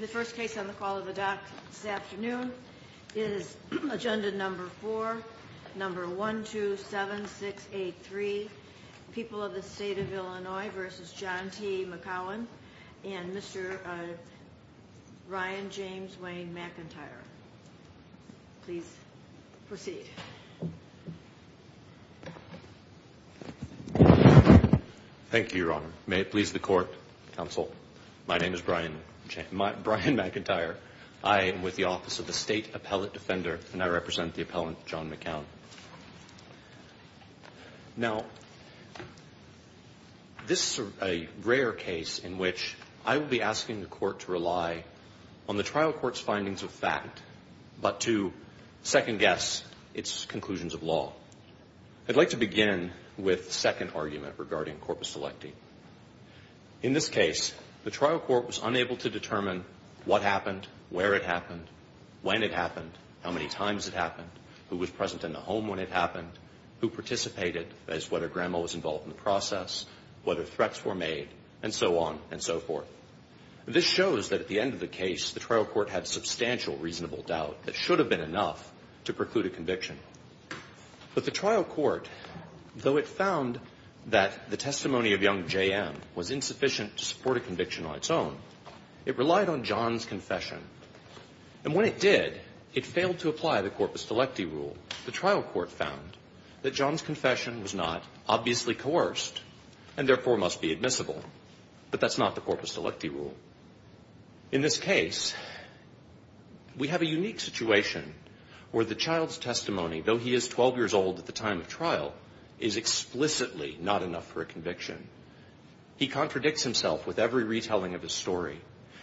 The first case on the call of the dock this afternoon is agenda number four, number 127683, People of the State of Illinois v. John T. McKown and Mr. Ryan James Wayne McIntyre. Please proceed. Thank you, Your Honor. May it please the Court, Counsel, my name is Brian McIntyre. I am with the Office of the State Appellate Defender and I represent the appellant John McKown. Now, this is a rare case in which I will be asking the Court to rely on the trial court's findings of fact but to second-guess its conclusions of law. I'd like to begin with the second argument regarding corpus electi. In this case, the trial court was unable to determine what happened, where it happened, when it happened, how many times it happened, who was present in the home when it happened, who participated, that is, whether Grandma was involved in the process, whether threats were made, and so on and so forth. This shows that at the end of the case, the trial court had substantial reasonable doubt that should have been enough to preclude a conviction. But the trial court, though it found that the testimony of young J.M. was insufficient to support a conviction on its own, it relied on John's confession. And when it did, it failed to apply the corpus electi rule. The trial court found that John's confession was not obviously coerced and therefore must be admissible. But that's not the corpus electi rule. In this case, we have a unique situation where the child's testimony, though he is 12 years old at the time of trial, is explicitly not enough for a conviction. He contradicts himself with every retelling of his story.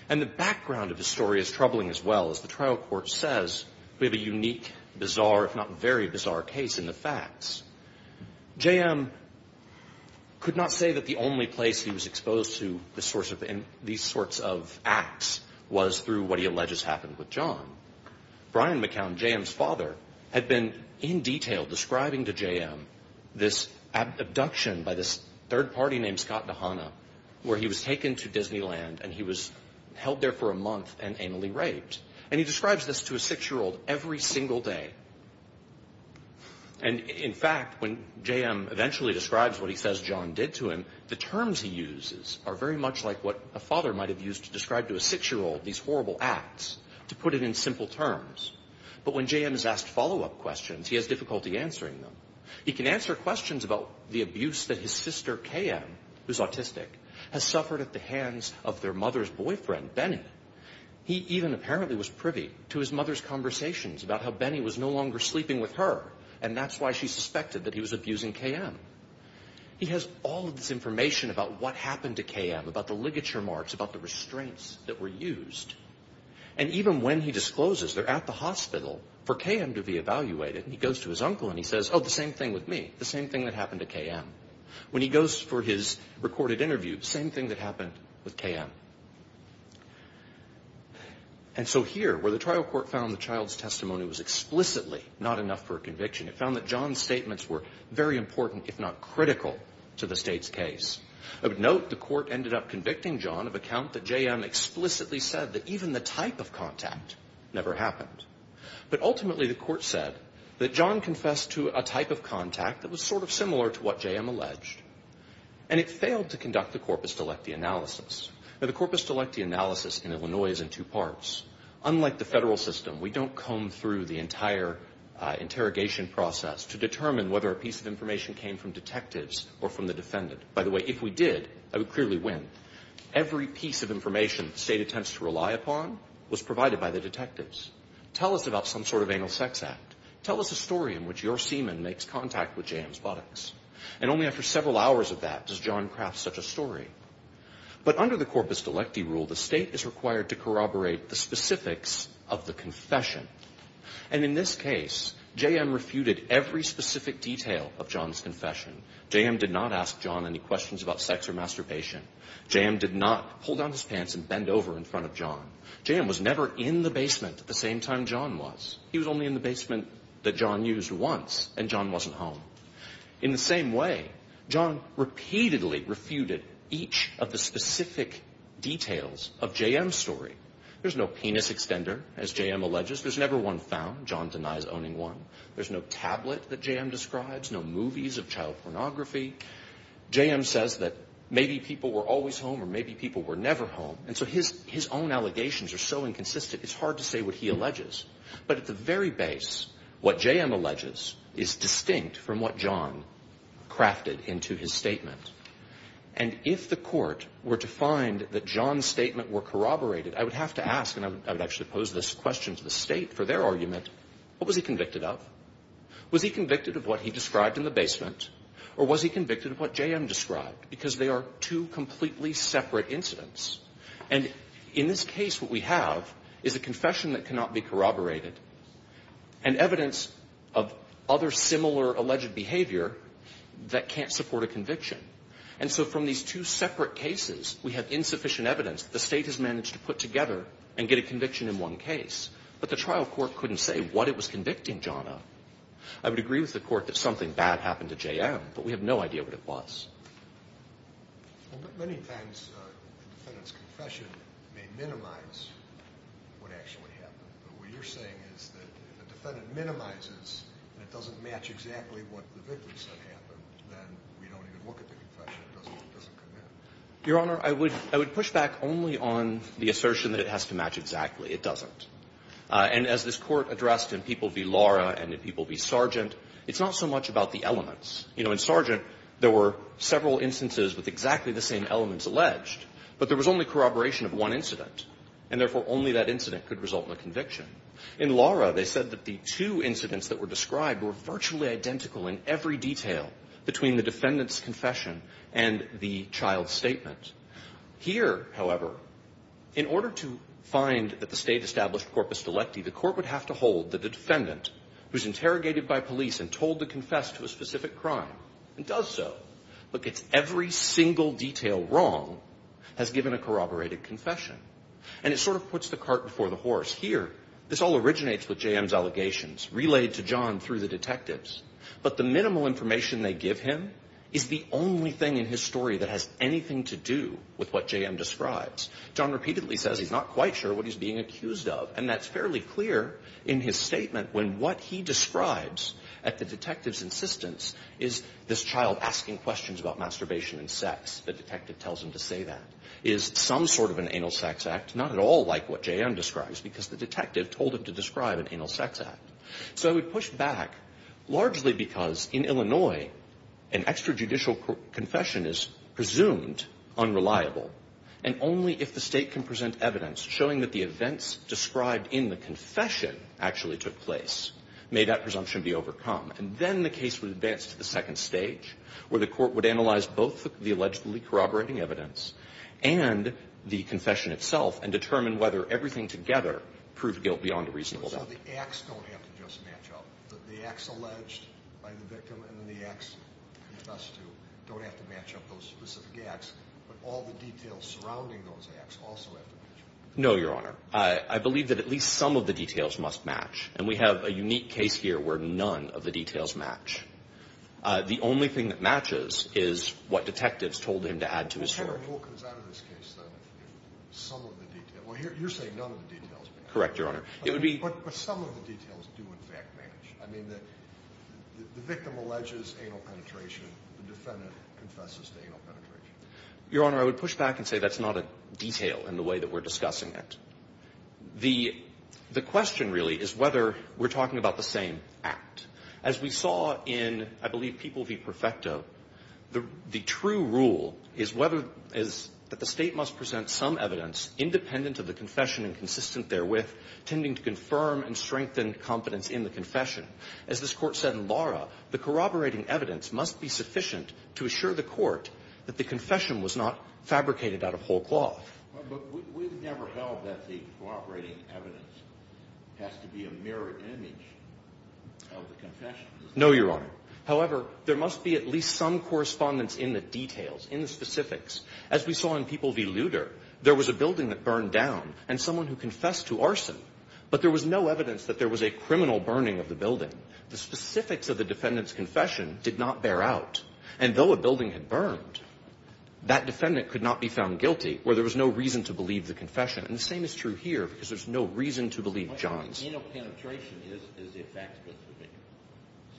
And the background of his story is troubling as well. As the trial court says, we have a unique, bizarre, if not very bizarre case in the facts. J.M. could not say that the only place he was exposed to these sorts of acts was through what he alleges happened with John. Brian McCown, J.M.'s father, had been in detail describing to J.M. this abduction by this third party named Scott Nahana where he was taken to Disneyland and he was held there for a month and anally raped. And he describes this to a six-year-old every single day. And, in fact, when J.M. eventually describes what he says John did to him, the terms he uses are very much like what a father might have used to describe to a six-year-old these horrible acts, to put it in simple terms. But when J.M. is asked follow-up questions, he has difficulty answering them. He can answer questions about the abuse that his sister Kayann, who's autistic, has suffered at the hands of their mother's boyfriend, Benny. He even apparently was privy to his mother's conversations about how Benny was no longer sleeping with her and that's why she suspected that he was abusing Kayann. He has all of this information about what happened to Kayann, about the ligature marks, about the restraints that were used. And even when he discloses they're at the hospital for Kayann to be evaluated, he goes to his uncle and he says, oh, the same thing with me, the same thing that happened to Kayann. When he goes for his recorded interview, same thing that happened with Kayann. And so here, where the trial court found the child's testimony was explicitly not enough for a conviction, it found that John's statements were very important, if not critical, to the state's case. I would note the court ended up convicting John of account that J.M. explicitly said that even the type of contact never happened. But ultimately the court said that John confessed to a type of contact that was sort of similar to what J.M. alleged. And it failed to conduct the corpus delecti analysis. Now, the corpus delecti analysis in Illinois is in two parts. Unlike the federal system, we don't comb through the entire interrogation process to determine whether a piece of information came from detectives or from the defendant. By the way, if we did, I would clearly win. Every piece of information the state attempts to rely upon was provided by the detectives. Tell us about some sort of anal sex act. Tell us a story in which your seaman makes contact with J.M.'s buttocks. And only after several hours of that does John craft such a story. But under the corpus delecti rule, the state is required to corroborate the specifics of the confession. And in this case, J.M. refuted every specific detail of John's confession. J.M. did not ask John any questions about sex or masturbation. J.M. did not pull down his pants and bend over in front of John. J.M. was never in the basement at the same time John was. He was only in the basement that John used once, and John wasn't home. In the same way, John repeatedly refuted each of the specific details of J.M.'s story. There's no penis extender, as J.M. alleges. There's never one found. John denies owning one. There's no tablet that J.M. describes, no movies of child pornography. J.M. says that maybe people were always home or maybe people were never home. And so his own allegations are so inconsistent, it's hard to say what he alleges. But at the very base, what J.M. alleges is distinct from what John crafted into his statement. And if the court were to find that John's statement were corroborated, I would have to ask, and I would actually pose this question to the state for their argument, what was he convicted of? Was he convicted of what he described in the basement, or was he convicted of what J.M. described? Because they are two completely separate incidents. And in this case, what we have is a confession that cannot be corroborated and evidence of other similar alleged behavior that can't support a conviction. And so from these two separate cases, we have insufficient evidence that the state has managed to put together and get a conviction in one case. But the trial court couldn't say what it was convicting John of. I would agree with the court that something bad happened to J.M., but we have no idea what it was. Many times, a defendant's confession may minimize what actually happened. But what you're saying is that if a defendant minimizes and it doesn't match exactly what the victim said happened, then we don't even look at the confession. It doesn't come in. Your Honor, I would push back only on the assertion that it has to match exactly. It doesn't. And as this Court addressed in P.V. Lara and in P.V. Sargent, it's not so much about the elements. You know, in Sargent, there were several instances with exactly the same elements alleged, but there was only corroboration of one incident, and therefore, only that incident could result in a conviction. In Lara, they said that the two incidents that were described were virtually identical in every detail between the defendant's confession and the child's statement. Here, however, in order to find that the state established corpus delecti, the court would have to hold that the defendant, who's interrogated by police and told to confess to a specific crime and does so, but gets every single detail wrong, has given a corroborated confession. And it sort of puts the cart before the horse. Here, this all originates with J.M.'s allegations relayed to John through the detectives, but the minimal information they give him is the only thing in his story that has anything to do with what J.M. describes. John repeatedly says he's not quite sure what he's being accused of, and that's fairly clear in his statement when what he describes at the detective's insistence is this child asking questions about masturbation and sex. The detective tells him to say that is some sort of an anal sex act, not at all like what J.M. describes because the detective told him to describe an anal sex act. So I would push back largely because in Illinois, an extrajudicial confession is presumed unreliable, and only if the state can present evidence showing that the events described in the confession actually took place may that presumption be overcome. And then the case would advance to the second stage where the court would analyze both the allegedly corroborating evidence and the confession itself and determine whether everything together proved guilt beyond a reasonable doubt. So the acts don't have to just match up. The acts alleged by the victim and the acts he confessed to don't have to match up those specific acts, but all the details surrounding those acts also have to match up. No, Your Honor. I believe that at least some of the details must match, and we have a unique case here where none of the details match. The only thing that matches is what detectives told him to add to his story. What kind of rule comes out of this case, then, if some of the details – well, you're saying none of the details match. Correct, Your Honor. It would be – But some of the details do, in fact, match. I mean, the victim alleges anal penetration. The defendant confesses to anal penetration. Your Honor, I would push back and say that's not a detail in the way that we're discussing it. The question, really, is whether we're talking about the same act. As we saw in, I believe, People v. Perfecto, the true rule is whether – is that the State must present some evidence independent of the confession and consistent therewith, tending to confirm and strengthen confidence in the confession. As this Court said in Lara, the corroborating evidence must be sufficient to assure the Court that the confession was not fabricated out of whole cloth. But we've never held that the corroborating evidence has to be a mirrored image of the confession. No, Your Honor. However, there must be at least some correspondence in the details, in the specifics. As we saw in People v. Luder, there was a building that burned down and someone who confessed to arson, but there was no evidence that there was a criminal burning of the building. The specifics of the defendant's confession did not bear out. And though a building had burned, that defendant could not be found guilty, where there was no reason to believe the confession. And the same is true here, because there's no reason to believe John's. What anal penetration is is a fact-specific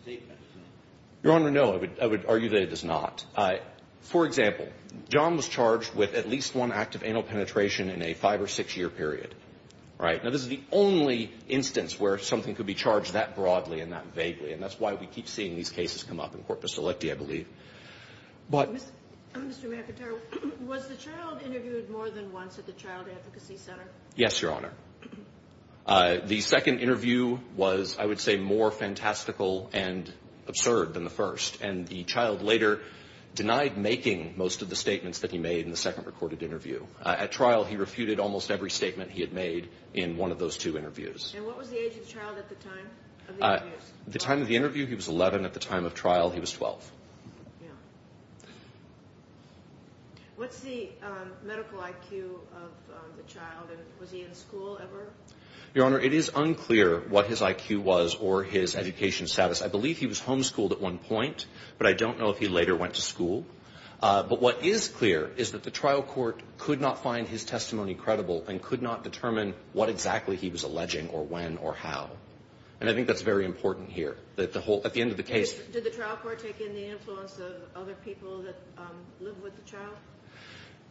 statement. Your Honor, no. I would argue that it is not. For example, John was charged with at least one act of anal penetration in a five- or six-year period. Right? Now, this is the only instance where something could be charged that broadly and that vaguely. And that's why we keep seeing these cases come up in Corpus Electi, I believe. But — Mr. McIntyre, was the child interviewed more than once at the Child Advocacy Center? Yes, Your Honor. The second interview was, I would say, more fantastical and absurd than the first. And the child later denied making most of the statements that he made in the second recorded interview. At trial, he refuted almost every statement he had made in one of those two interviews. And what was the age of the child at the time of the interviews? At the time of the interview, he was 11. At the time of trial, he was 12. Yeah. What's the medical IQ of the child? And was he in school ever? Your Honor, it is unclear what his IQ was or his education status. I believe he was homeschooled at one point, but I don't know if he later went to school. But what is clear is that the trial court could not find his testimony credible and could not determine what exactly he was alleging or when or how. And I think that's very important here. At the end of the case— Did the trial court take in the influence of other people that lived with the child?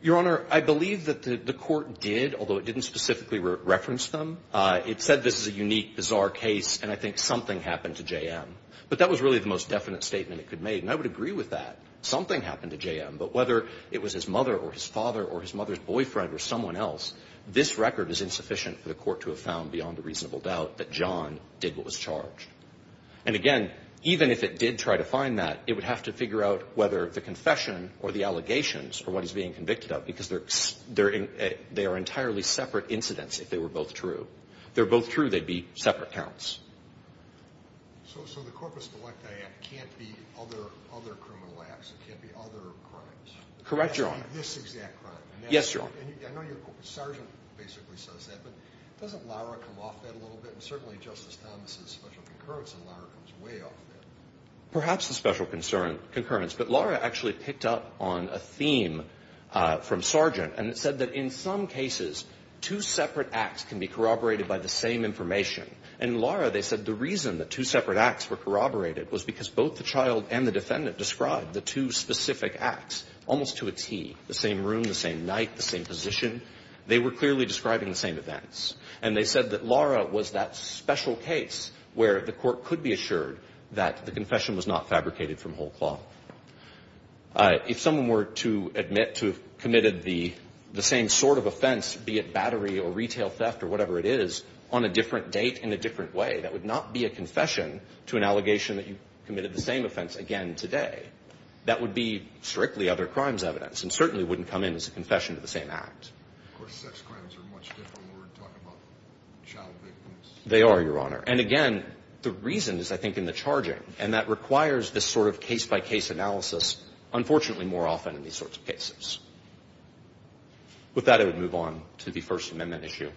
Your Honor, I believe that the court did, although it didn't specifically reference them. It said this is a unique, bizarre case, and I think something happened to JM. But that was really the most definite statement it could make, and I would agree with that. Something happened to JM, but whether it was his mother or his father or his mother's boyfriend or someone else, this record is insufficient for the court to have found beyond a reasonable doubt that John did what was charged. And again, even if it did try to find that, it would have to figure out whether the confession or the allegations or what he's being convicted of, because they are entirely separate incidents if they were both true. If they were both true, they'd be separate counts. So the Corpus Delecta Act can't be other criminal acts. It can't be other crimes. Correct, Your Honor. It can't be this exact crime. Yes, Your Honor. And I know Sergeant basically says that, but doesn't Lara come off that a little bit? And certainly Justice Thomas' special concurrence in Lara comes way off that. Perhaps a special concurrence, but Lara actually picked up on a theme from Sergeant and said that in some cases, two separate acts can be corroborated by the same information. In Lara, they said the reason the two separate acts were corroborated was because both the child and the defendant described the two specific acts almost to a tee, the same room, the same night, the same position. They were clearly describing the same events. And they said that Lara was that special case where the court could be assured that the confession was not fabricated from whole cloth. If someone were to admit to have committed the same sort of offense, be it battery or retail theft or whatever it is, on a different date in a different way, that would not be a confession to an allegation that you committed the same offense again today. That would be strictly other crimes evidence and certainly wouldn't come in as a confession to the same act. Of course, sex crimes are much different when we're talking about child victims. They are, Your Honor. And again, the reason is, I think, in the charging, and that requires this sort of case-by-case analysis unfortunately more often in these sorts of cases. With that, I would move on to the First Amendment issue.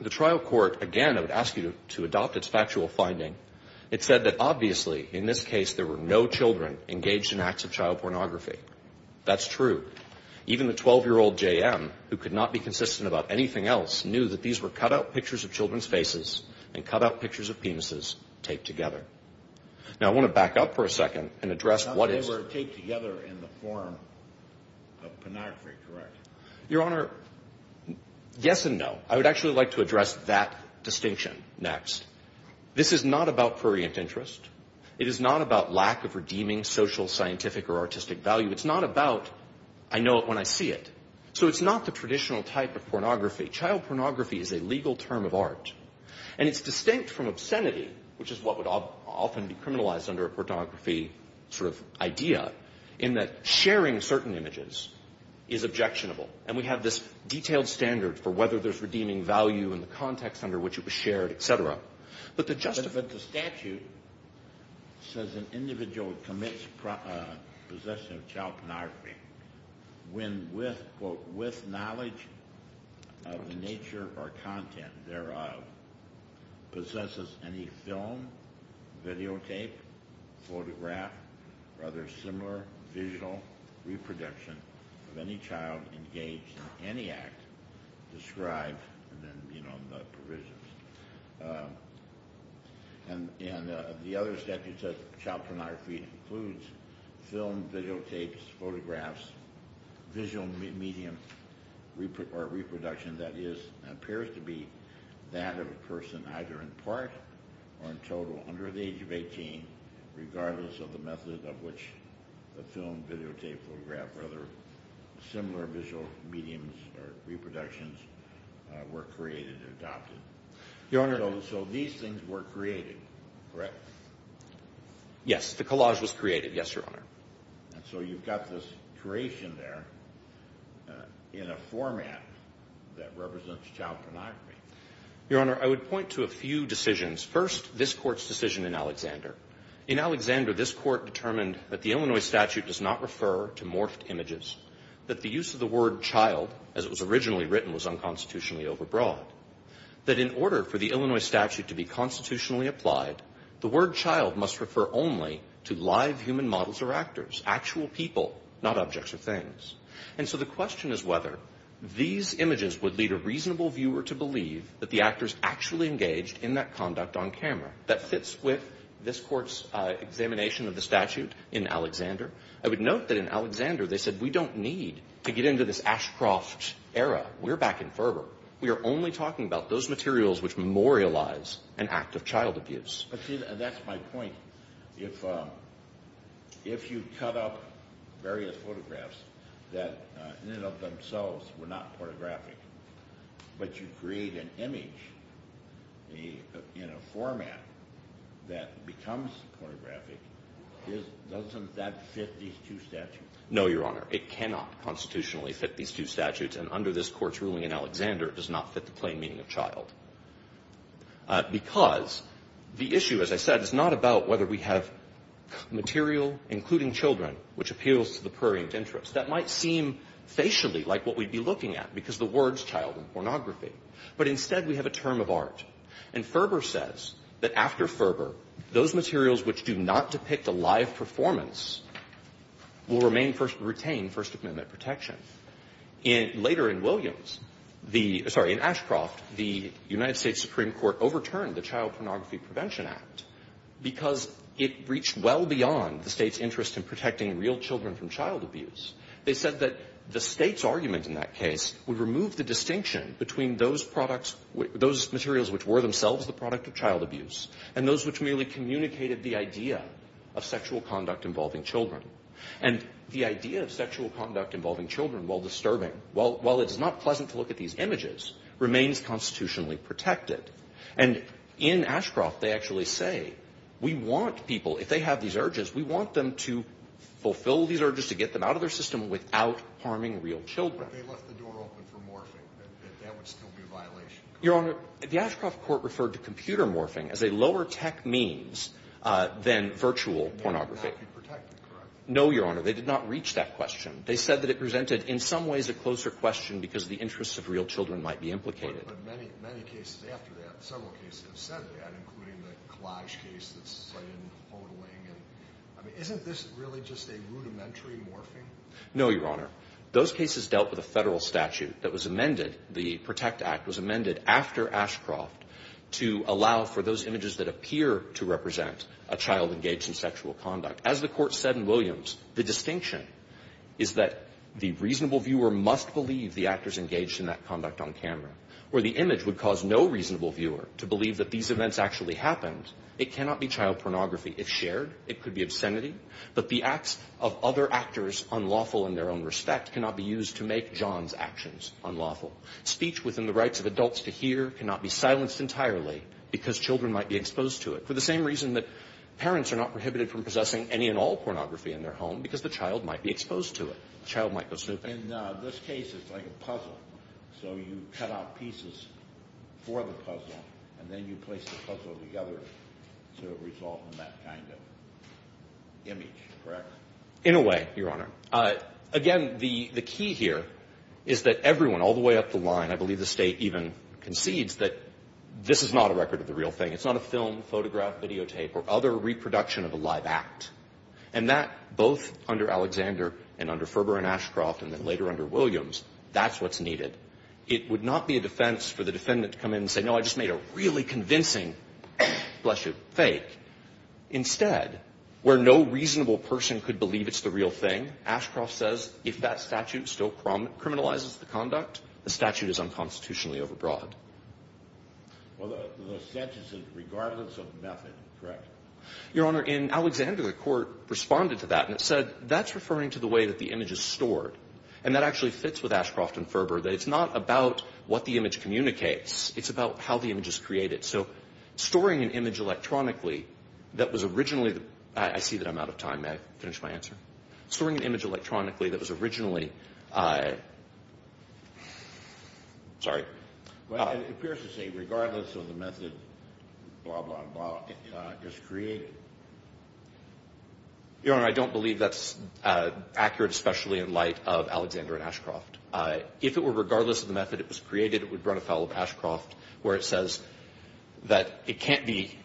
The trial court, again, I would ask you to adopt its factual finding. It said that, obviously, in this case, there were no children engaged in acts of child pornography. That's true. Even the 12-year-old J.M., who could not be consistent about anything else, knew that these were cut-out pictures of children's faces and cut-out pictures of penises taped together. Now, I want to back up for a second and address what is. These are taped together in the form of pornography, correct? Your Honor, yes and no. I would actually like to address that distinction next. This is not about prurient interest. It is not about lack of redeeming social, scientific, or artistic value. It's not about, I know it when I see it. So it's not the traditional type of pornography. Child pornography is a legal term of art, and it's distinct from obscenity, which is what would often be criminalized under a pornography sort of idea, in that sharing certain images is objectionable. And we have this detailed standard for whether there's redeeming value in the context under which it was shared, et cetera. But the statute says an individual commits possession of child pornography when, with, quote, with knowledge of the nature or content thereof, possesses any film, videotape, photograph, or other similar visual reproduction of any child engaged in any act described in the provisions. And the other statute says child pornography includes film, videotapes, photographs, visual medium or reproduction that appears to be that of a person either in part or in total under the age of 18, regardless of the method of which the film, videotape, photograph, or other similar visual mediums or reproductions were created or adopted. Your Honor, so these things were created, correct? Yes. The collage was created. Yes, Your Honor. And so you've got this creation there in a format that represents child pornography. Your Honor, I would point to a few decisions. First, this Court's decision in Alexander. In Alexander, this Court determined that the Illinois statute does not refer to morphed images, that the use of the word child, as it was originally written, was unconstitutionally overbroad, that in order for the Illinois statute to be constitutionally applied, the word child must refer only to live human models or actors, actual people, not objects or things. And so the question is whether these images would lead a reasonable viewer to believe that the actors actually engaged in that conduct on camera. That fits with this Court's examination of the statute in Alexander. I would note that in Alexander they said we don't need to get into this Ashcroft era. We're back in Ferber. We are only talking about those materials which memorialize an act of child abuse. But see, that's my point. If you cut up various photographs that in and of themselves were not pornographic, but you create an image in a format that becomes pornographic, doesn't that fit these two statutes? No, Your Honor. It cannot constitutionally fit these two statutes. And under this Court's ruling in Alexander, it does not fit the plain meaning of child. Because the issue, as I said, is not about whether we have material, including children, which appeals to the prurient interest. That might seem facially like what we'd be looking at because the words child and pornography. But instead we have a term of art. And Ferber says that after Ferber, those materials which do not depict a live performance will retain First Amendment protection. Later in Williams, sorry, in Ashcroft, the United States Supreme Court overturned the Child Pornography Prevention Act because it reached well beyond the state's interest in protecting real children from child abuse. They said that the state's argument in that case would remove the distinction between those materials which were themselves the product of child abuse and those which merely communicated the idea of sexual conduct involving children. And the idea of sexual conduct involving children while disturbing, while it is not pleasant to look at these images, remains constitutionally protected. And in Ashcroft, they actually say we want people, if they have these urges, we want them to fulfill these urges to get them out of their system without harming real children. But they left the door open for morphing. That would still be a violation. Your Honor, the Ashcroft court referred to computer morphing as a lower tech means than virtual pornography. No, Your Honor, they did not reach that question. They said that it presented in some ways a closer question because the interests of real children might be implicated. No, Your Honor. Those cases dealt with a federal statute that was amended. The Protect Act was amended after Ashcroft to allow for those images that appear to represent a child engaged in sexual conduct. As the court said in Williams, the distinction is that the reasonable viewer must believe the actor is engaged in that conduct on camera or the image would cause no reasonable viewer to believe that these events actually happened. It cannot be child pornography if shared. It could be obscenity. But the acts of other actors unlawful in their own respect cannot be used to make John's actions unlawful. Speech within the rights of adults to hear cannot be silenced entirely because children might be exposed to it. For the same reason that parents are not prohibited from possessing any and all pornography in their home because the child might be exposed to it. The child might go snooping. In this case, it's like a puzzle. So you cut out pieces for the puzzle and then you place the puzzle together so it results in that kind of image, correct? In a way, Your Honor. Again, the key here is that everyone, all the way up the line, I believe the State even concedes that this is not a record of the real thing. It's not a film, photograph, videotape, or other reproduction of a live act. And that, both under Alexander and under Ferber and Ashcroft and then later under Williams, that's what's needed. It would not be a defense for the defendant to come in and say, no, I just made a really convincing, bless you, fake. Instead, where no reasonable person could believe it's the real thing, Ashcroft says, if that statute still criminalizes the conduct, the statute is unconstitutionally overbroad. Well, the sentence is regardless of method, correct? Your Honor, in Alexander, the Court responded to that and it said, that's referring to the way that the image is stored. And that actually fits with Ashcroft and Ferber, that it's not about what the image communicates. It's about how the image is created. So storing an image electronically that was originally, I see that I'm out of time. May I finish my answer? Storing an image electronically that was originally, sorry. Well, it appears to say regardless of the method, blah, blah, blah, it's created. Your Honor, I don't believe that's accurate, especially in light of Alexander and Ashcroft. If it were regardless of the method it was created, it would run afoul of Ashcroft, where it says that it can't be,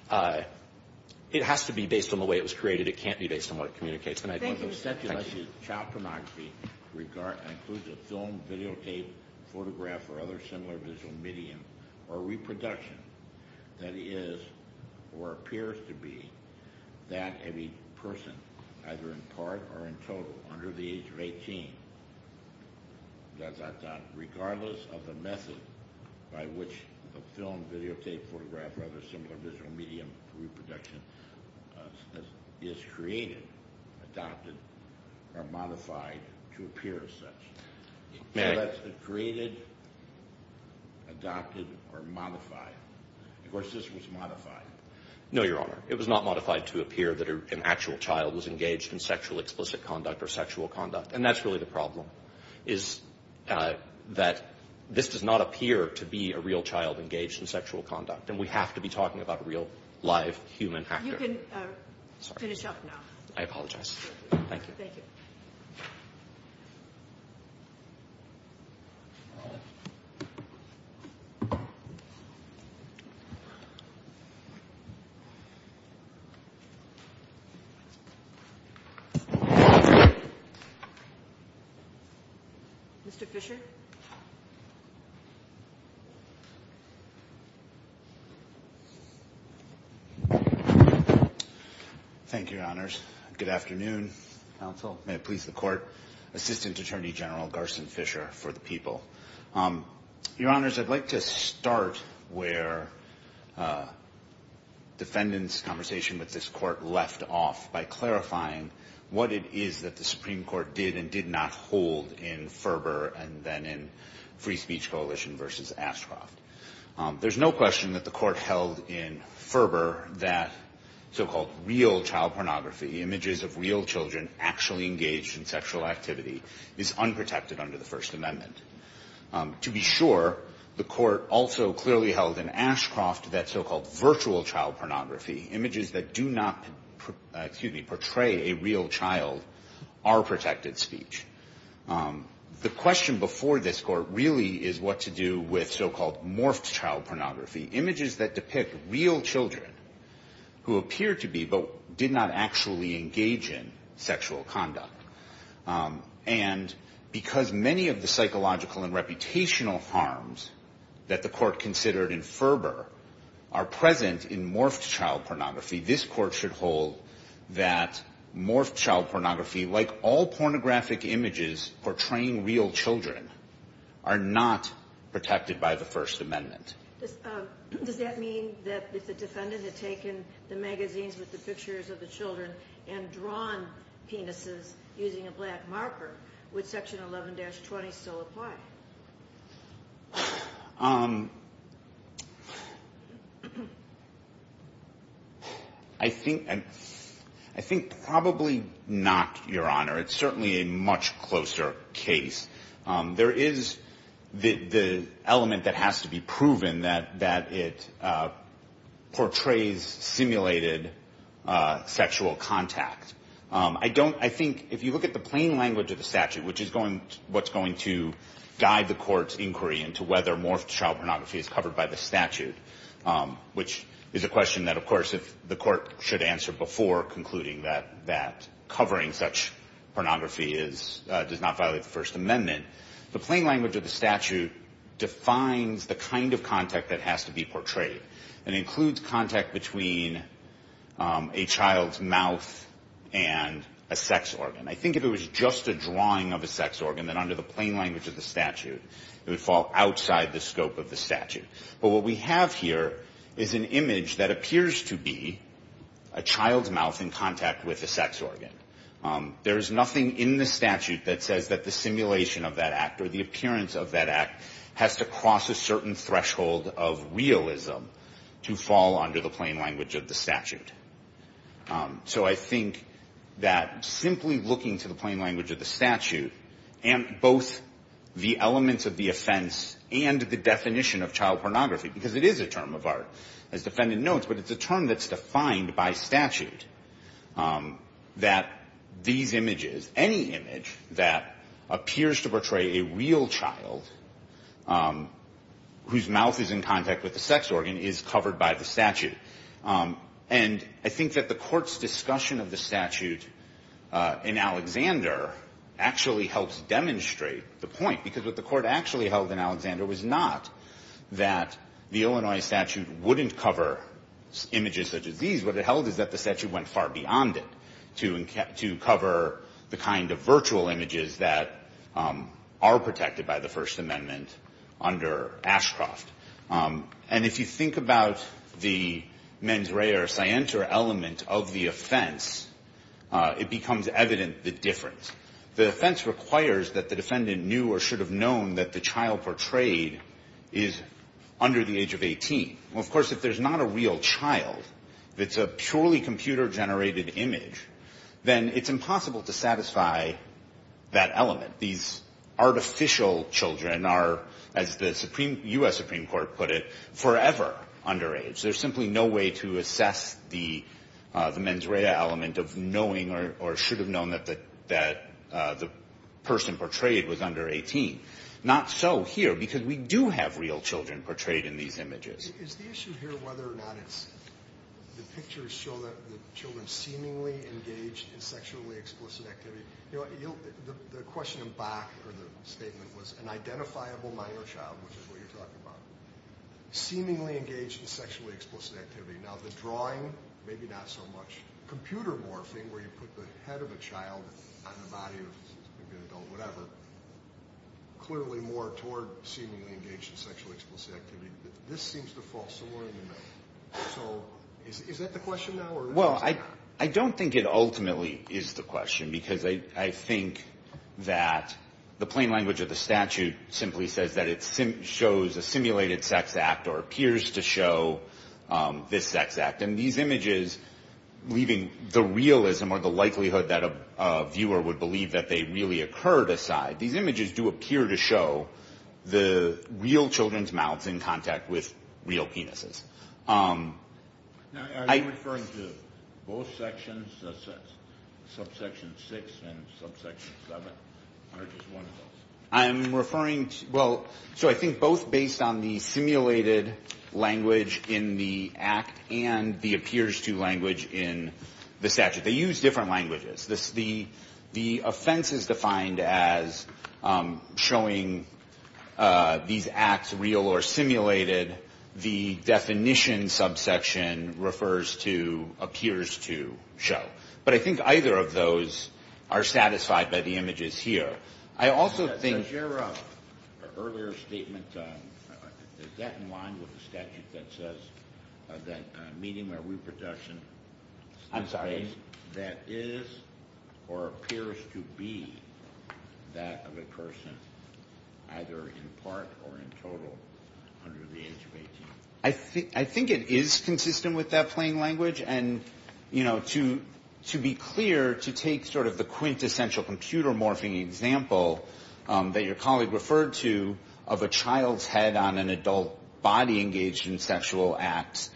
it has to be based on the way it was created. It can't be based on what it communicates. Thank you. Thank you. Child pornography includes a film, videotape, photograph or other similar visual medium or reproduction that is or appears to be that of a person either in part or in total under the age of 18, dot, dot, dot, regardless of the method by which the film, videotape, photograph or other similar visual medium or reproduction is created, adopted or modified to appear as such. May I? So that's created, adopted or modified. Of course, this was modified. No, Your Honor. It was not modified to appear that an actual child was engaged in sexually explicit conduct or sexual conduct, and that's really the problem is that this does not appear to be a real child engaged in sexual conduct, and we have to be talking about a real, live human actor. You can finish up now. I apologize. Thank you. Thank you. Thank you. Mr. Fisher? Good afternoon, counsel. May it please the Court. Assistant Attorney General Garson Fisher for the people. Your Honors, I'd like to start where defendants' conversation with this Court left off by clarifying what it is that the Supreme Court did and did not hold in Ferber and then in Free Speech Coalition v. Ashcroft. There's no question that the Court held in Ferber that so-called real child pornography, images of real children actually engaged in sexual activity, is unprotected under the First Amendment. To be sure, the Court also clearly held in Ashcroft that so-called virtual child pornography, images that do not, excuse me, portray a real child, are protected speech. The question before this Court really is what to do with so-called morphed child pornography, images that depict real children who appear to be but did not actually engage in sexual conduct. And because many of the psychological and reputational harms that the Court considered in Ferber are present in morphed child pornography, this Court should hold that morphed child pornography, like all pornographic images portraying real children, are not protected by the First Amendment. Does that mean that if the defendant had taken the magazines with the pictures of the children and drawn penises using a black marker, would Section 11-20 still apply? I think probably not, Your Honor. It's certainly a much closer case. There is the element that has to be proven that it portrays simulated sexual contact. I don't, I think if you look at the plain language of the statute, which is going, what's going to guide the Court's inquiry into whether morphed child pornography is covered by the statute, which is a question that, of course, the Court should answer before concluding that covering such pornography does not violate the First Amendment, the plain language of the statute defines the kind of contact that has to be portrayed and includes contact between a child's mouth and a sex organ. I think if it was just a drawing of a sex organ, then under the plain language of the statute, it would fall outside the scope of the statute. But what we have here is an image that appears to be a child's mouth in contact with a sex organ. There is nothing in the statute that says that the simulation of that act or the appearance of that act has to cross a certain threshold of realism to fall under the plain language of the statute. So I think that simply looking to the plain language of the statute and both the elements of the offense and the definition of child pornography, because it is a term of art, as the defendant notes, but it's a term that's defined by statute, that these images, any image that appears to portray a real child whose mouth is in contact with a sex organ is covered by the statute. And I think that the Court's discussion of the statute in Alexander actually helps demonstrate the point, because what the Court actually held in Alexander was not that the Illinois statute wouldn't cover images such as these. What it held is that the statute went far beyond it to cover the kind of virtual images that are protected by the First Amendment under Ashcroft. And if you think about the mens rea or scienter element of the offense, it becomes evident the difference. The offense requires that the defendant knew or should have known that the child portrayed is under the age of 18. Well, of course, if there's not a real child that's a purely computer-generated image, then it's impossible to satisfy that element. These artificial children are, as the U.S. Supreme Court put it, forever underage. There's simply no way to assess the mens rea element of knowing or should have known that the person portrayed was under 18. Not so here, because we do have real children portrayed in these images. Is the issue here whether or not the pictures show that the children seemingly engaged in sexually explicit activity? The question in Bach or the statement was an identifiable minor child, which is what you're talking about, seemingly engaged in sexually explicit activity. Now, the drawing, maybe not so much. Computer morphing, where you put the head of a child on the body of maybe an adult, whatever, clearly more toward seemingly engaged in sexually explicit activity. This seems to fall somewhere in the middle. So is that the question now? Well, I don't think it ultimately is the question, because I think that the plain language of the statute simply says that it shows a simulated sex act or appears to show this sex act. And these images, leaving the realism or the likelihood that a viewer would believe that they really occurred aside, these images do appear to show the real children's mouths in contact with real penises. Now, are you referring to both sections, subsection 6 and subsection 7, or just one of those? I am referring to, well, so I think both based on the simulated language in the act and the appears to language in the statute. They use different languages. The offense is defined as showing these acts real or simulated. The definition subsection refers to appears to show. But I think either of those are satisfied by the images here. Your earlier statement, is that in line with the statute that says that medium of reproduction that is or appears to be that of a person either in part or in total under the age of 18? I think it is consistent with that plain language. And, you know, to be clear, to take sort of the quintessential computer morphing example that your colleague referred to of a child's head on an adult body engaged in sexual acts,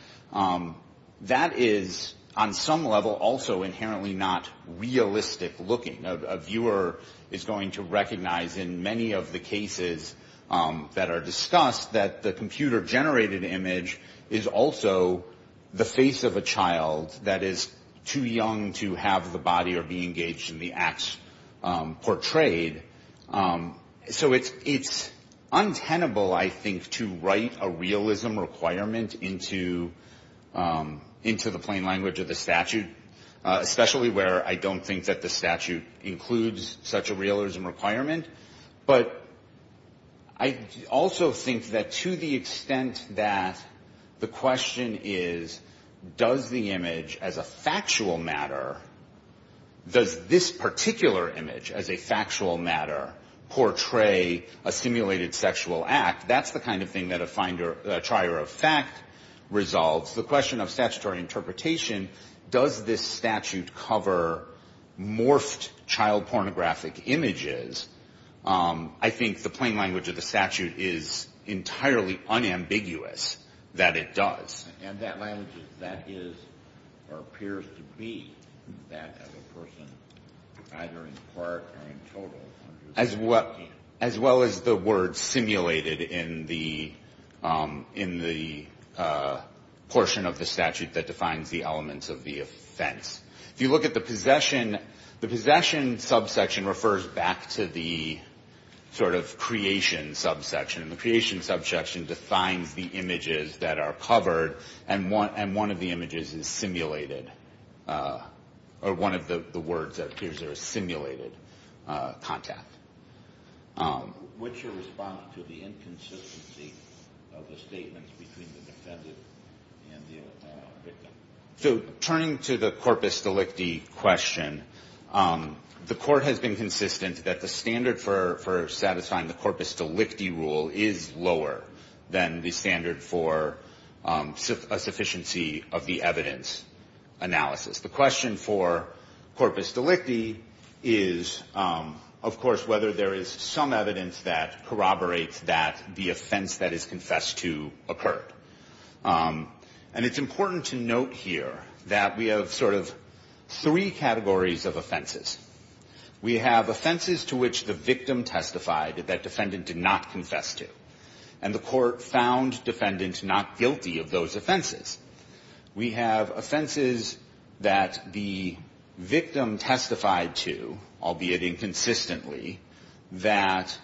that is on some level also inherently not realistic looking. A viewer is going to recognize in many of the cases that are discussed that the computer generated image is also the face of a child that is too young to have the body or be engaged in the acts portrayed. So it's untenable, I think, to write a realism requirement into the plain language of the statute, especially where I don't think that the statute includes such a realism requirement. But I also think that to the extent that the question is, does the image as a factual matter, does this particular image as a factual matter portray a simulated sexual act? That's the kind of thing that a trier of fact resolves. The question of statutory interpretation, does this statute cover morphed child pornographic images? I think the plain language of the statute is entirely unambiguous that it does. That is or appears to be that as a person either in part or in total. As well as the word simulated in the portion of the statute that defines the elements of the offense. If you look at the possession, the possession subsection refers back to the sort of creation subsection. The creation subsection defines the images that are covered and one of the images is simulated. Or one of the words that appears there is simulated contact. What's your response to the inconsistency of the statements between the defendant and the victim? So turning to the corpus delicti question, the court has been consistent that the standard for satisfying the corpus delicti rule is lower than the standard for a sufficiency of the evidence analysis. The question for corpus delicti is, of course, whether there is some evidence that corroborates that the offense that is confessed to occurred. And it's important to note here that we have sort of three categories of offenses. We have offenses to which the victim testified that defendant did not confess to. And the court found defendant not guilty of those offenses. We have offenses that the victim testified to, albeit inconsistently, that,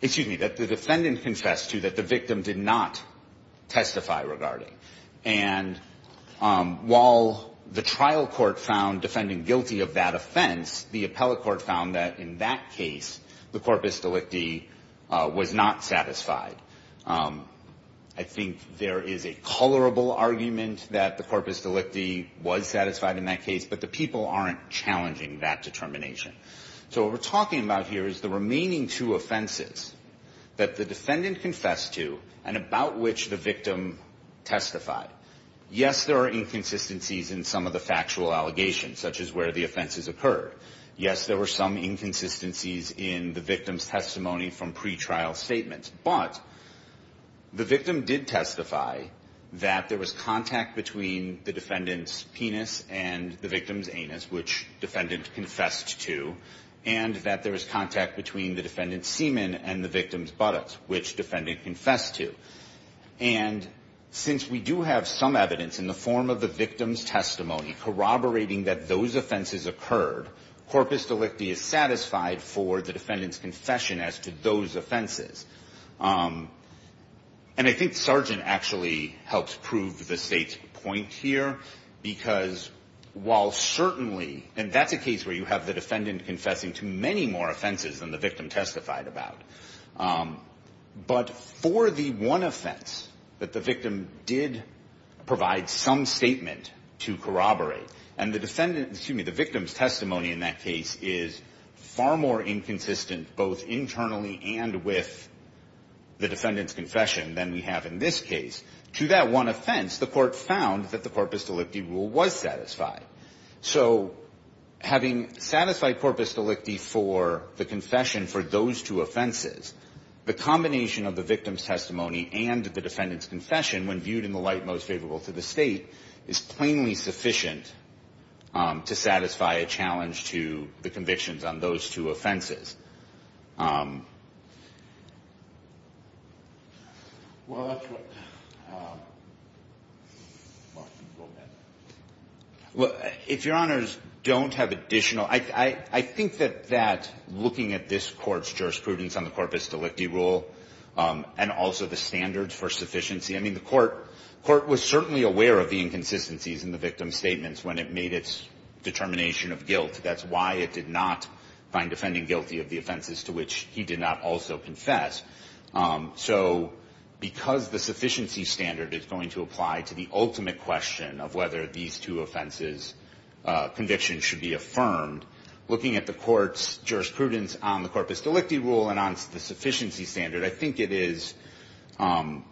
excuse me, that the defendant confessed to that the victim did not testify regarding. And while the trial court found defendant guilty of that offense, the appellate court found that in that case the corpus delicti was not satisfied. I think there is a colorable argument that the corpus delicti was satisfied in that case, but the people aren't challenging that determination. So what we're talking about here is the remaining two offenses that the defendant confessed to and about which the victim testified. Yes, there are inconsistencies in some of the factual allegations, such as where the offenses occurred. Yes, there were some inconsistencies in the victim's testimony from pretrial statements. But the victim did testify that there was contact between the defendant's penis and the victim's anus, which defendant confessed to, and that there was contact between the defendant's semen and the victim's buttocks, which defendant confessed to. And since we do have some evidence in the form of the victim's testimony corroborating that those offenses occurred, corpus delicti is satisfied for the defendant's confession as to those offenses. And I think Sargent actually helps prove the State's point here, because while certainly, and that's a case where you have the defendant confessing to many more offenses than the victim testified about, but for the one offense that the victim did provide some statement to corroborate, and the defendant, excuse me, the victim's testimony in that case is far more inconsistent, both internally and with the defendant's confession than we have in this case. To that one offense, the Court found that the corpus delicti rule was satisfied. So having satisfied corpus delicti for the confession for those two offenses, the combination of the victim's testimony and the defendant's confession, when viewed in the light most favorable to the State, is plainly sufficient to satisfy a challenge to the convictions on those two offenses. Well, if Your Honors don't have additional, I think that looking at this Court's jurisprudence on the corpus delicti rule, and also the standards for sufficiency, I mean, the Court was certainly aware of the inconsistencies in the victim's statements when it made its determination of guilt. That's why it did not find the defendant guilty of the offenses to which he did not also confess. So because the sufficiency standard is going to apply to the ultimate question of whether these two offenses convictions should be affirmed, looking at the Court's jurisprudence on the corpus delicti rule and on the sufficiency standard, I think it is plain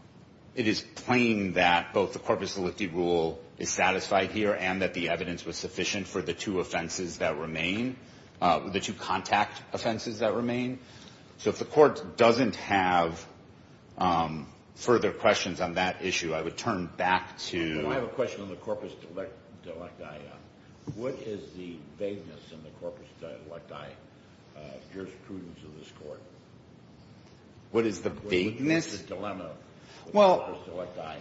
that both the corpus delicti rule is satisfied here and that the evidence was sufficient for the two offenses that remain, the two contact offenses that remain. So if the Court doesn't have further questions on that issue, I would turn back to — What is the vagueness in the corpus delicti jurisprudence of this Court? What is the vagueness? What is the dilemma of the corpus delicti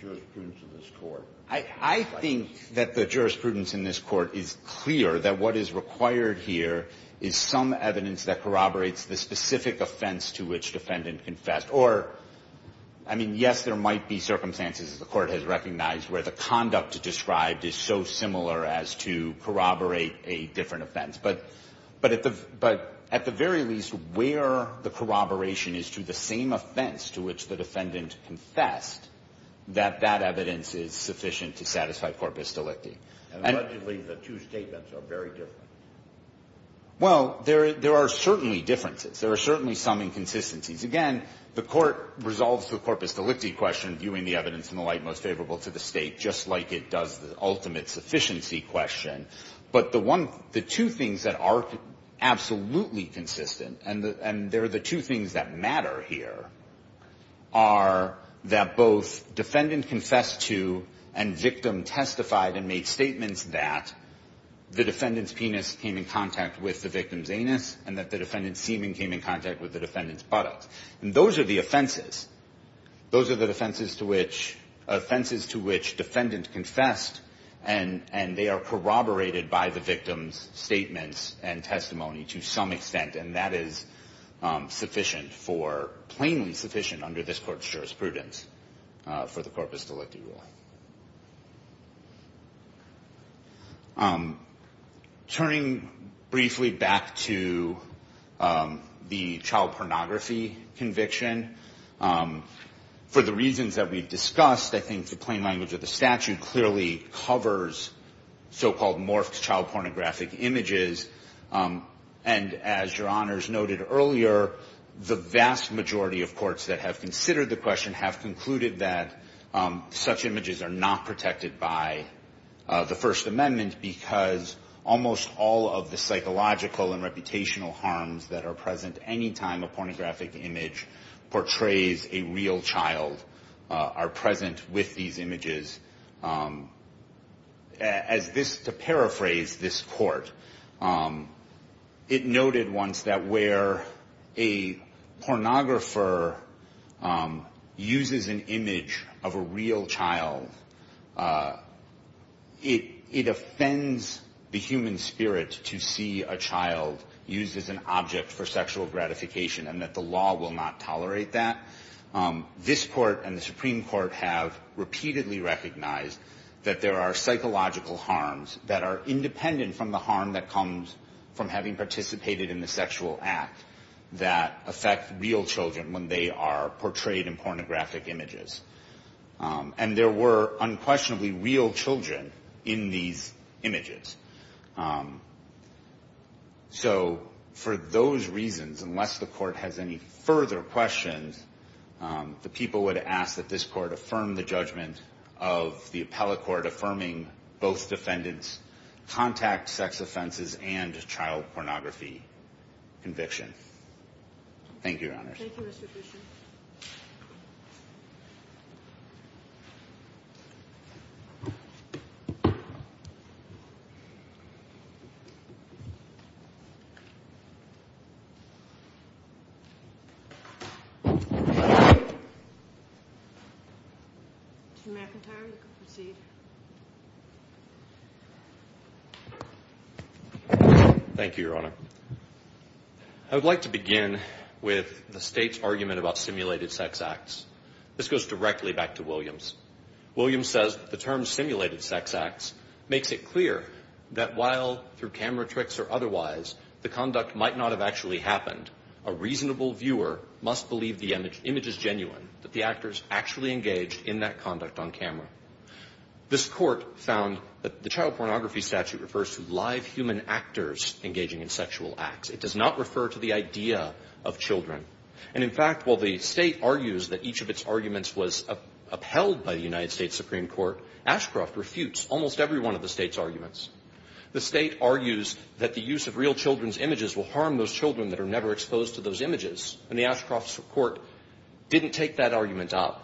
jurisprudence of this Court? I think that the jurisprudence in this Court is clear that what is required here is some evidence that corroborates the specific offense to which defendant confessed. Or, I mean, yes, there might be circumstances, as the Court has recognized, where the conduct described is so similar as to corroborate a different offense. But at the very least, where the corroboration is to the same offense to which the defendant confessed, that that evidence is sufficient to satisfy corpus delicti. And allegedly the two statements are very different. Well, there are certainly differences. There are certainly some inconsistencies. Again, the Court resolves the corpus delicti question, viewing the evidence in the light most favorable to the State, just like it does the ultimate sufficiency question. But the one — the two things that are absolutely consistent, and there are the two things that matter here, are that both defendant confessed to and victim testified and made statements that the defendant's penis came in contact with the victim's genitals. And those are the offenses. Those are the offenses to which defendant confessed, and they are corroborated by the victim's statements and testimony to some extent. And that is sufficient for — plainly sufficient under this Court's jurisprudence for the corpus delicti ruling. Turning briefly back to the child pornography conviction, for the reasons that we discussed, I think the plain language of the statute clearly covers so-called morphed child pornographic images. And as Your Honors noted earlier, the vast majority of courts that have considered the question have concluded that such images are not protected by the First Amendment because almost all of the psychological and reputational harms that are present any time a pornographic image portrays a real child are present with these images. As this — to paraphrase this Court, it noted once that where a pornographer uses an image of a real child, it offends the human spirit to see a child used as an object for sexual gratification and that the law will not tolerate that. This Court and the Supreme Court have repeatedly recognized that there are psychological harms that are independent from the harm that comes from having participated in the sexual act that affect real children when they are portrayed in pornographic images. And there were unquestionably real children in these images. So for those reasons, unless the Court has any further questions, the people would ask that this Court affirm the judgment of the appellate court affirming both defendants' contact sex offenses and child pornography conviction. Thank you, Your Honors. Thank you, Mr. Fischer. Mr. McIntyre, you can proceed. Thank you, Your Honor. I would like to begin with the State's argument about simulated sex acts. This goes directly back to Williams. Williams says the term simulated sex acts makes it clear that while through camera tricks or otherwise the conduct might not have actually happened, a reasonable viewer must believe the image is genuine, that the actor is actually engaged in that conduct on camera. This Court found that the child pornography statute refers to live human actors engaging in sexual acts. It does not refer to the idea of children. And in fact, while the State argues that each of its arguments was upheld by the United States Supreme Court, Ashcroft refutes almost every one of the State's arguments. The State argues that the use of real children's images will harm those children that are never exposed to those images. And the Ashcroft Court didn't take that argument up.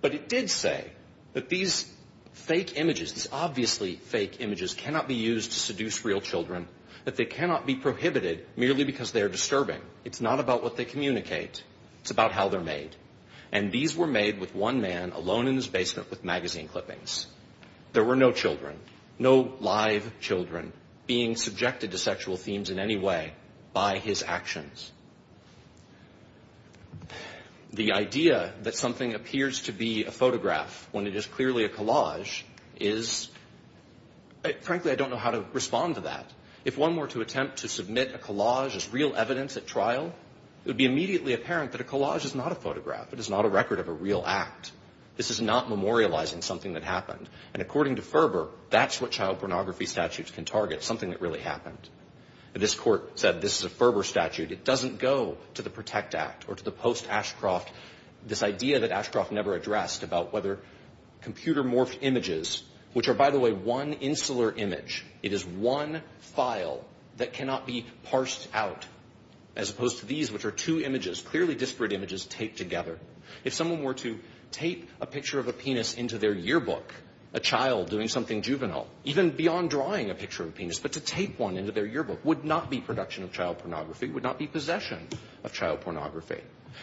But it did say that these fake images, these obviously fake images cannot be used to seduce real children, that they cannot be prohibited merely because they are disturbing. It's not about what they communicate. It's about how they're made. And these were made with one man alone in his basement with magazine clippings. There were no children, no live children being subjected to sexual themes in any way by his actions. The idea that something appears to be a photograph when it is clearly a collage is... Frankly, I don't know how to respond to that. If one were to attempt to submit a collage as real evidence at trial, it would be immediately apparent that a collage is not a photograph. It is not a record of a real act. This is not memorializing something that happened. And according to Ferber, that's what child pornography statutes can target, something that really happened. This court said this is a Ferber statute. It doesn't go to the PROTECT Act or to the post-Ashcroft. This idea that Ashcroft never addressed about whether computer-morphed images, which are, by the way, one insular image, it is one file that cannot be parsed out, as opposed to these, which are two images, clearly disparate images taped together. If someone were to tape a picture of a penis into their yearbook, a child doing something juvenile, even beyond drawing a picture of a penis, but to tape one into their yearbook would not be production of child pornography. It would not be possession of child pornography.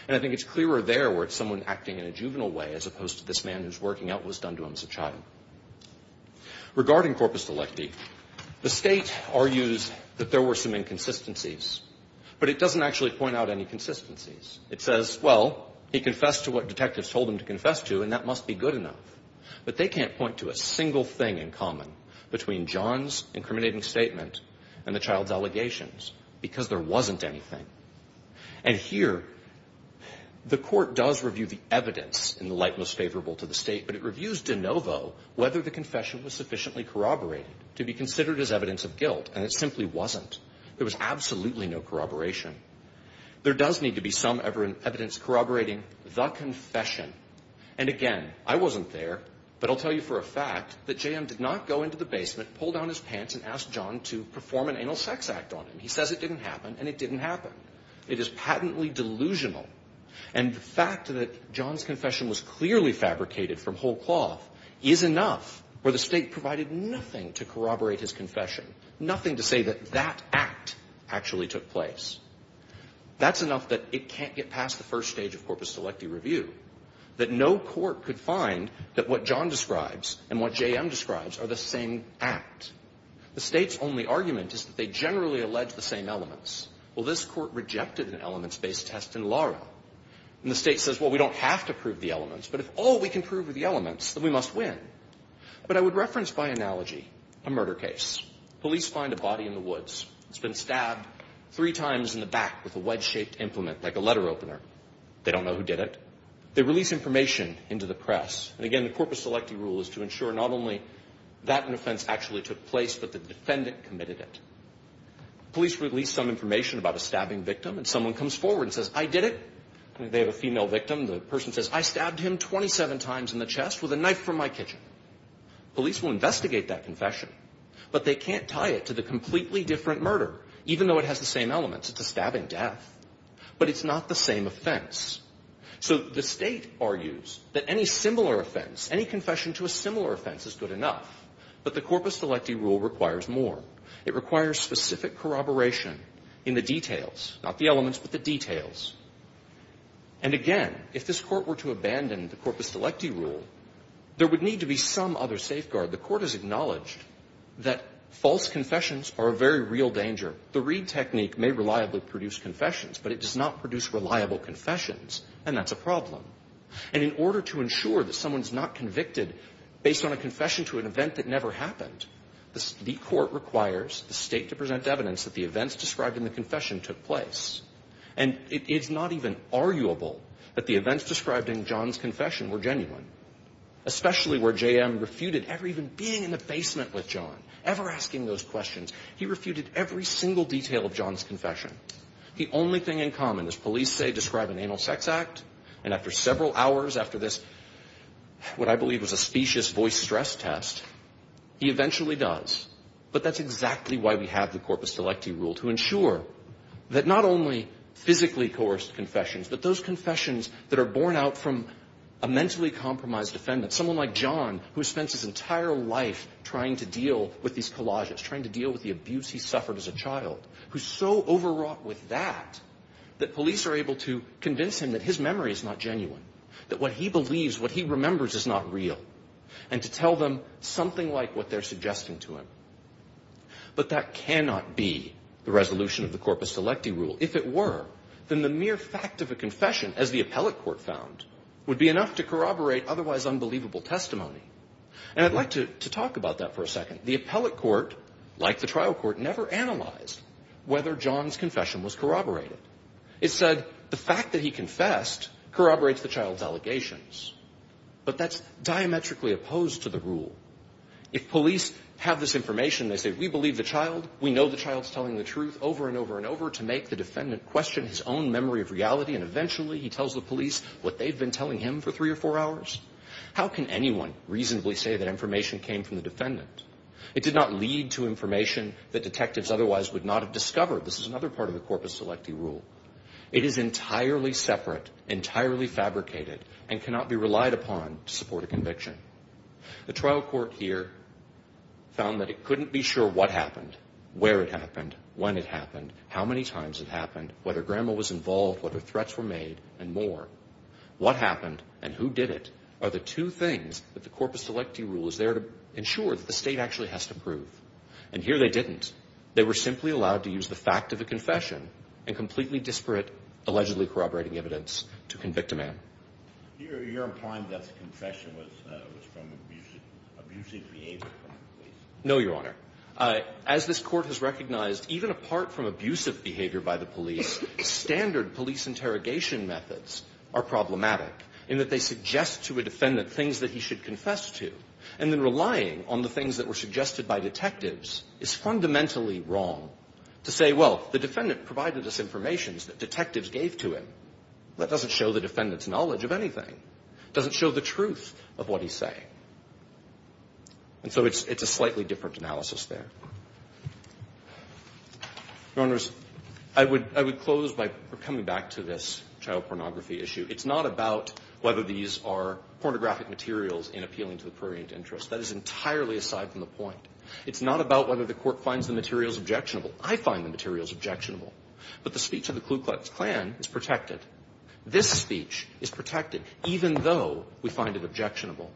And I think it's clearer there where it's someone acting in a juvenile way as opposed to this man who's working out what was done to him as a child. Regarding corpus delicti, the State argues that there were some inconsistencies. But it doesn't actually point out any consistencies. It says, well, he confessed to what detectives told him to confess to, and that must be good enough. But they can't point to a single thing in common between John's incriminating statement and the child's allegations, because there wasn't anything. And here, the Court does review the evidence in the light most favorable to the State, but it reviews de novo whether the confession was sufficiently corroborated to be considered as evidence of guilt, and it simply wasn't. There was absolutely no corroboration. There does need to be some evidence corroborating the confession. And again, I wasn't there, but I'll tell you for a fact that JM did not go into the basement, pull down his pants, and ask John to perform an anal sex act on him. He says it didn't happen, and it didn't happen. It is patently delusional. And the fact that John's confession was clearly fabricated from whole cloth is enough where the State provided nothing to corroborate his confession, nothing to say that that act actually took place. That's enough that it can't get past the first stage of corpus delicti review, that no court could find that what John describes and what JM describes are the same act. The State's only argument is that they generally allege the same elements. Well, this Court rejected an elements-based test in Lara. And the State says, well, we don't have to prove the elements, but if all we can prove are the elements, then we must win. But I would reference by analogy a murder case. Police find a body in the woods. It's been stabbed three times in the back with a wedge-shaped implement, like a letter opener. They don't know who did it. They release information into the press. And again, the corpus delicti rule is to ensure not only that an offense actually took place, but the defendant committed it. Police release some information about a stabbing victim, and someone comes forward and says, I did it. They have a female victim. The person says, I stabbed him 27 times in the chest with a knife from my kitchen. Police will investigate that confession, but they can't tie it to the completely different murder, even though it has the same elements. It's a stabbing death. But it's not the same offense. So the State argues that any similar offense, any confession to a similar offense is good enough. But the corpus delicti rule requires more. It requires specific corroboration in the details, not the elements, but the details. And again, if this Court were to abandon the corpus delicti rule, there would need to be some other safeguard. The Court has said that the Reed technique may reliably produce confessions, but it does not produce reliable confessions. And that's a problem. And in order to ensure that someone's not convicted based on a confession to an event that never happened, the Court requires the State to present evidence that the events described in the confession took place. And it's not even arguable that the events described in John's confession were genuine, especially where J.M. refuted ever even being in the basement with John, ever asking those questions. He refuted every single detail of John's confession. The only thing in common is police say describe an anal sex act, and after several hours after this, what I believe was a specious voice stress test, he eventually does. But that's exactly why we have the corpus delicti rule, to ensure that not only physically coerced confessions, but those confessions that are born out from a mentally compromised defendant, someone like John, who spends his entire life trying to deal with these collages, trying to deal with the abuse he suffered as a child, who's so overwrought with that, that police are able to convince him that his memory is not genuine, that what he believes, what he remembers is not real, and to tell them something like what they're suggesting to him. But that cannot be the resolution of the corpus delicti rule. If it were, then the mere fact of a confession, as the appellate court found, would be enough to corroborate otherwise unbelievable testimony. And I'd like to talk about that for a second. The appellate court, like the trial court, never analyzed whether John's confession was corroborated. It said the fact that he confessed corroborates the child's allegations. But that's diametrically opposed to the rule. If police have this information, they say, we believe the child, we know the child's telling the truth over and over and over to make the defendant question his own memory of reality, and eventually he tells the police what they've been telling him for three or four hours. How can anyone reasonably say that information came from the defendant? It did not lead to information that detectives otherwise would not have discovered. This is another part of the corpus delicti rule. It is entirely separate, entirely fabricated, and cannot be relied upon to support a conviction. The trial court here found that it couldn't be sure what happened, where it happened, when it happened, how many times it happened, whether grandma was involved, whether threats were made, and more. What happened and who did it are the two things that the corpus delicti rule is there to ensure that the state actually has to prove. And here they didn't. They were simply allowed to use the fact of a confession and completely disparate, allegedly corroborating evidence to convict a man. You're implying that the confession was from abusive behavior by the police? No, Your Honor. As this Court has recognized, even apart from abusive behavior by the police, standard police interrogation methods are problematic in that they suggest to a defendant things that he should confess to. And then relying on the things that is fundamentally wrong to say, well, the defendant provided us information that detectives gave to him. That doesn't show the defendant's knowledge of anything. It doesn't show the truth of what he's saying. And so it's a slightly different analysis there. Your Honors, I would close by coming back to this child pornography issue. It's not about whether these are pornographic materials in appealing to the prurient interest. That is entirely aside from the point. It's not about whether the Court finds the materials objectionable. I find the materials objectionable. But the speech of the Klu Klux Klan is protected. This speech is protected, even though we find it objectionable.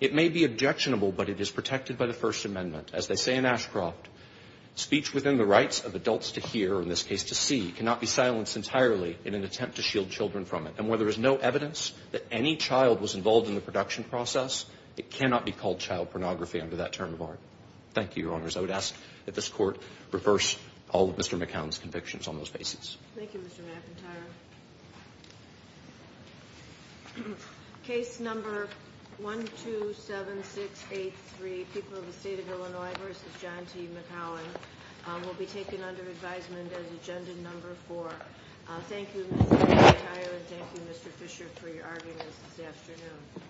It may be objectionable, but it is protected by the First Amendment. As they say in Ashcroft, speech within the rights of adults to hear, or in this case to see, cannot be silenced entirely in an attempt to shield It cannot be called child pornography under that term of art. Thank you, Your Honors. I would ask that this Court reverse all of Mr. McAllen's convictions on those bases. Thank you, Mr. McAllen. Case number 127683, people of the State of Illinois v. John T. McAllen, will be taken under advisement as agenda number four. Thank you, Mr. McAllen, and thank you, Mr. Fisher, for your arguments this afternoon.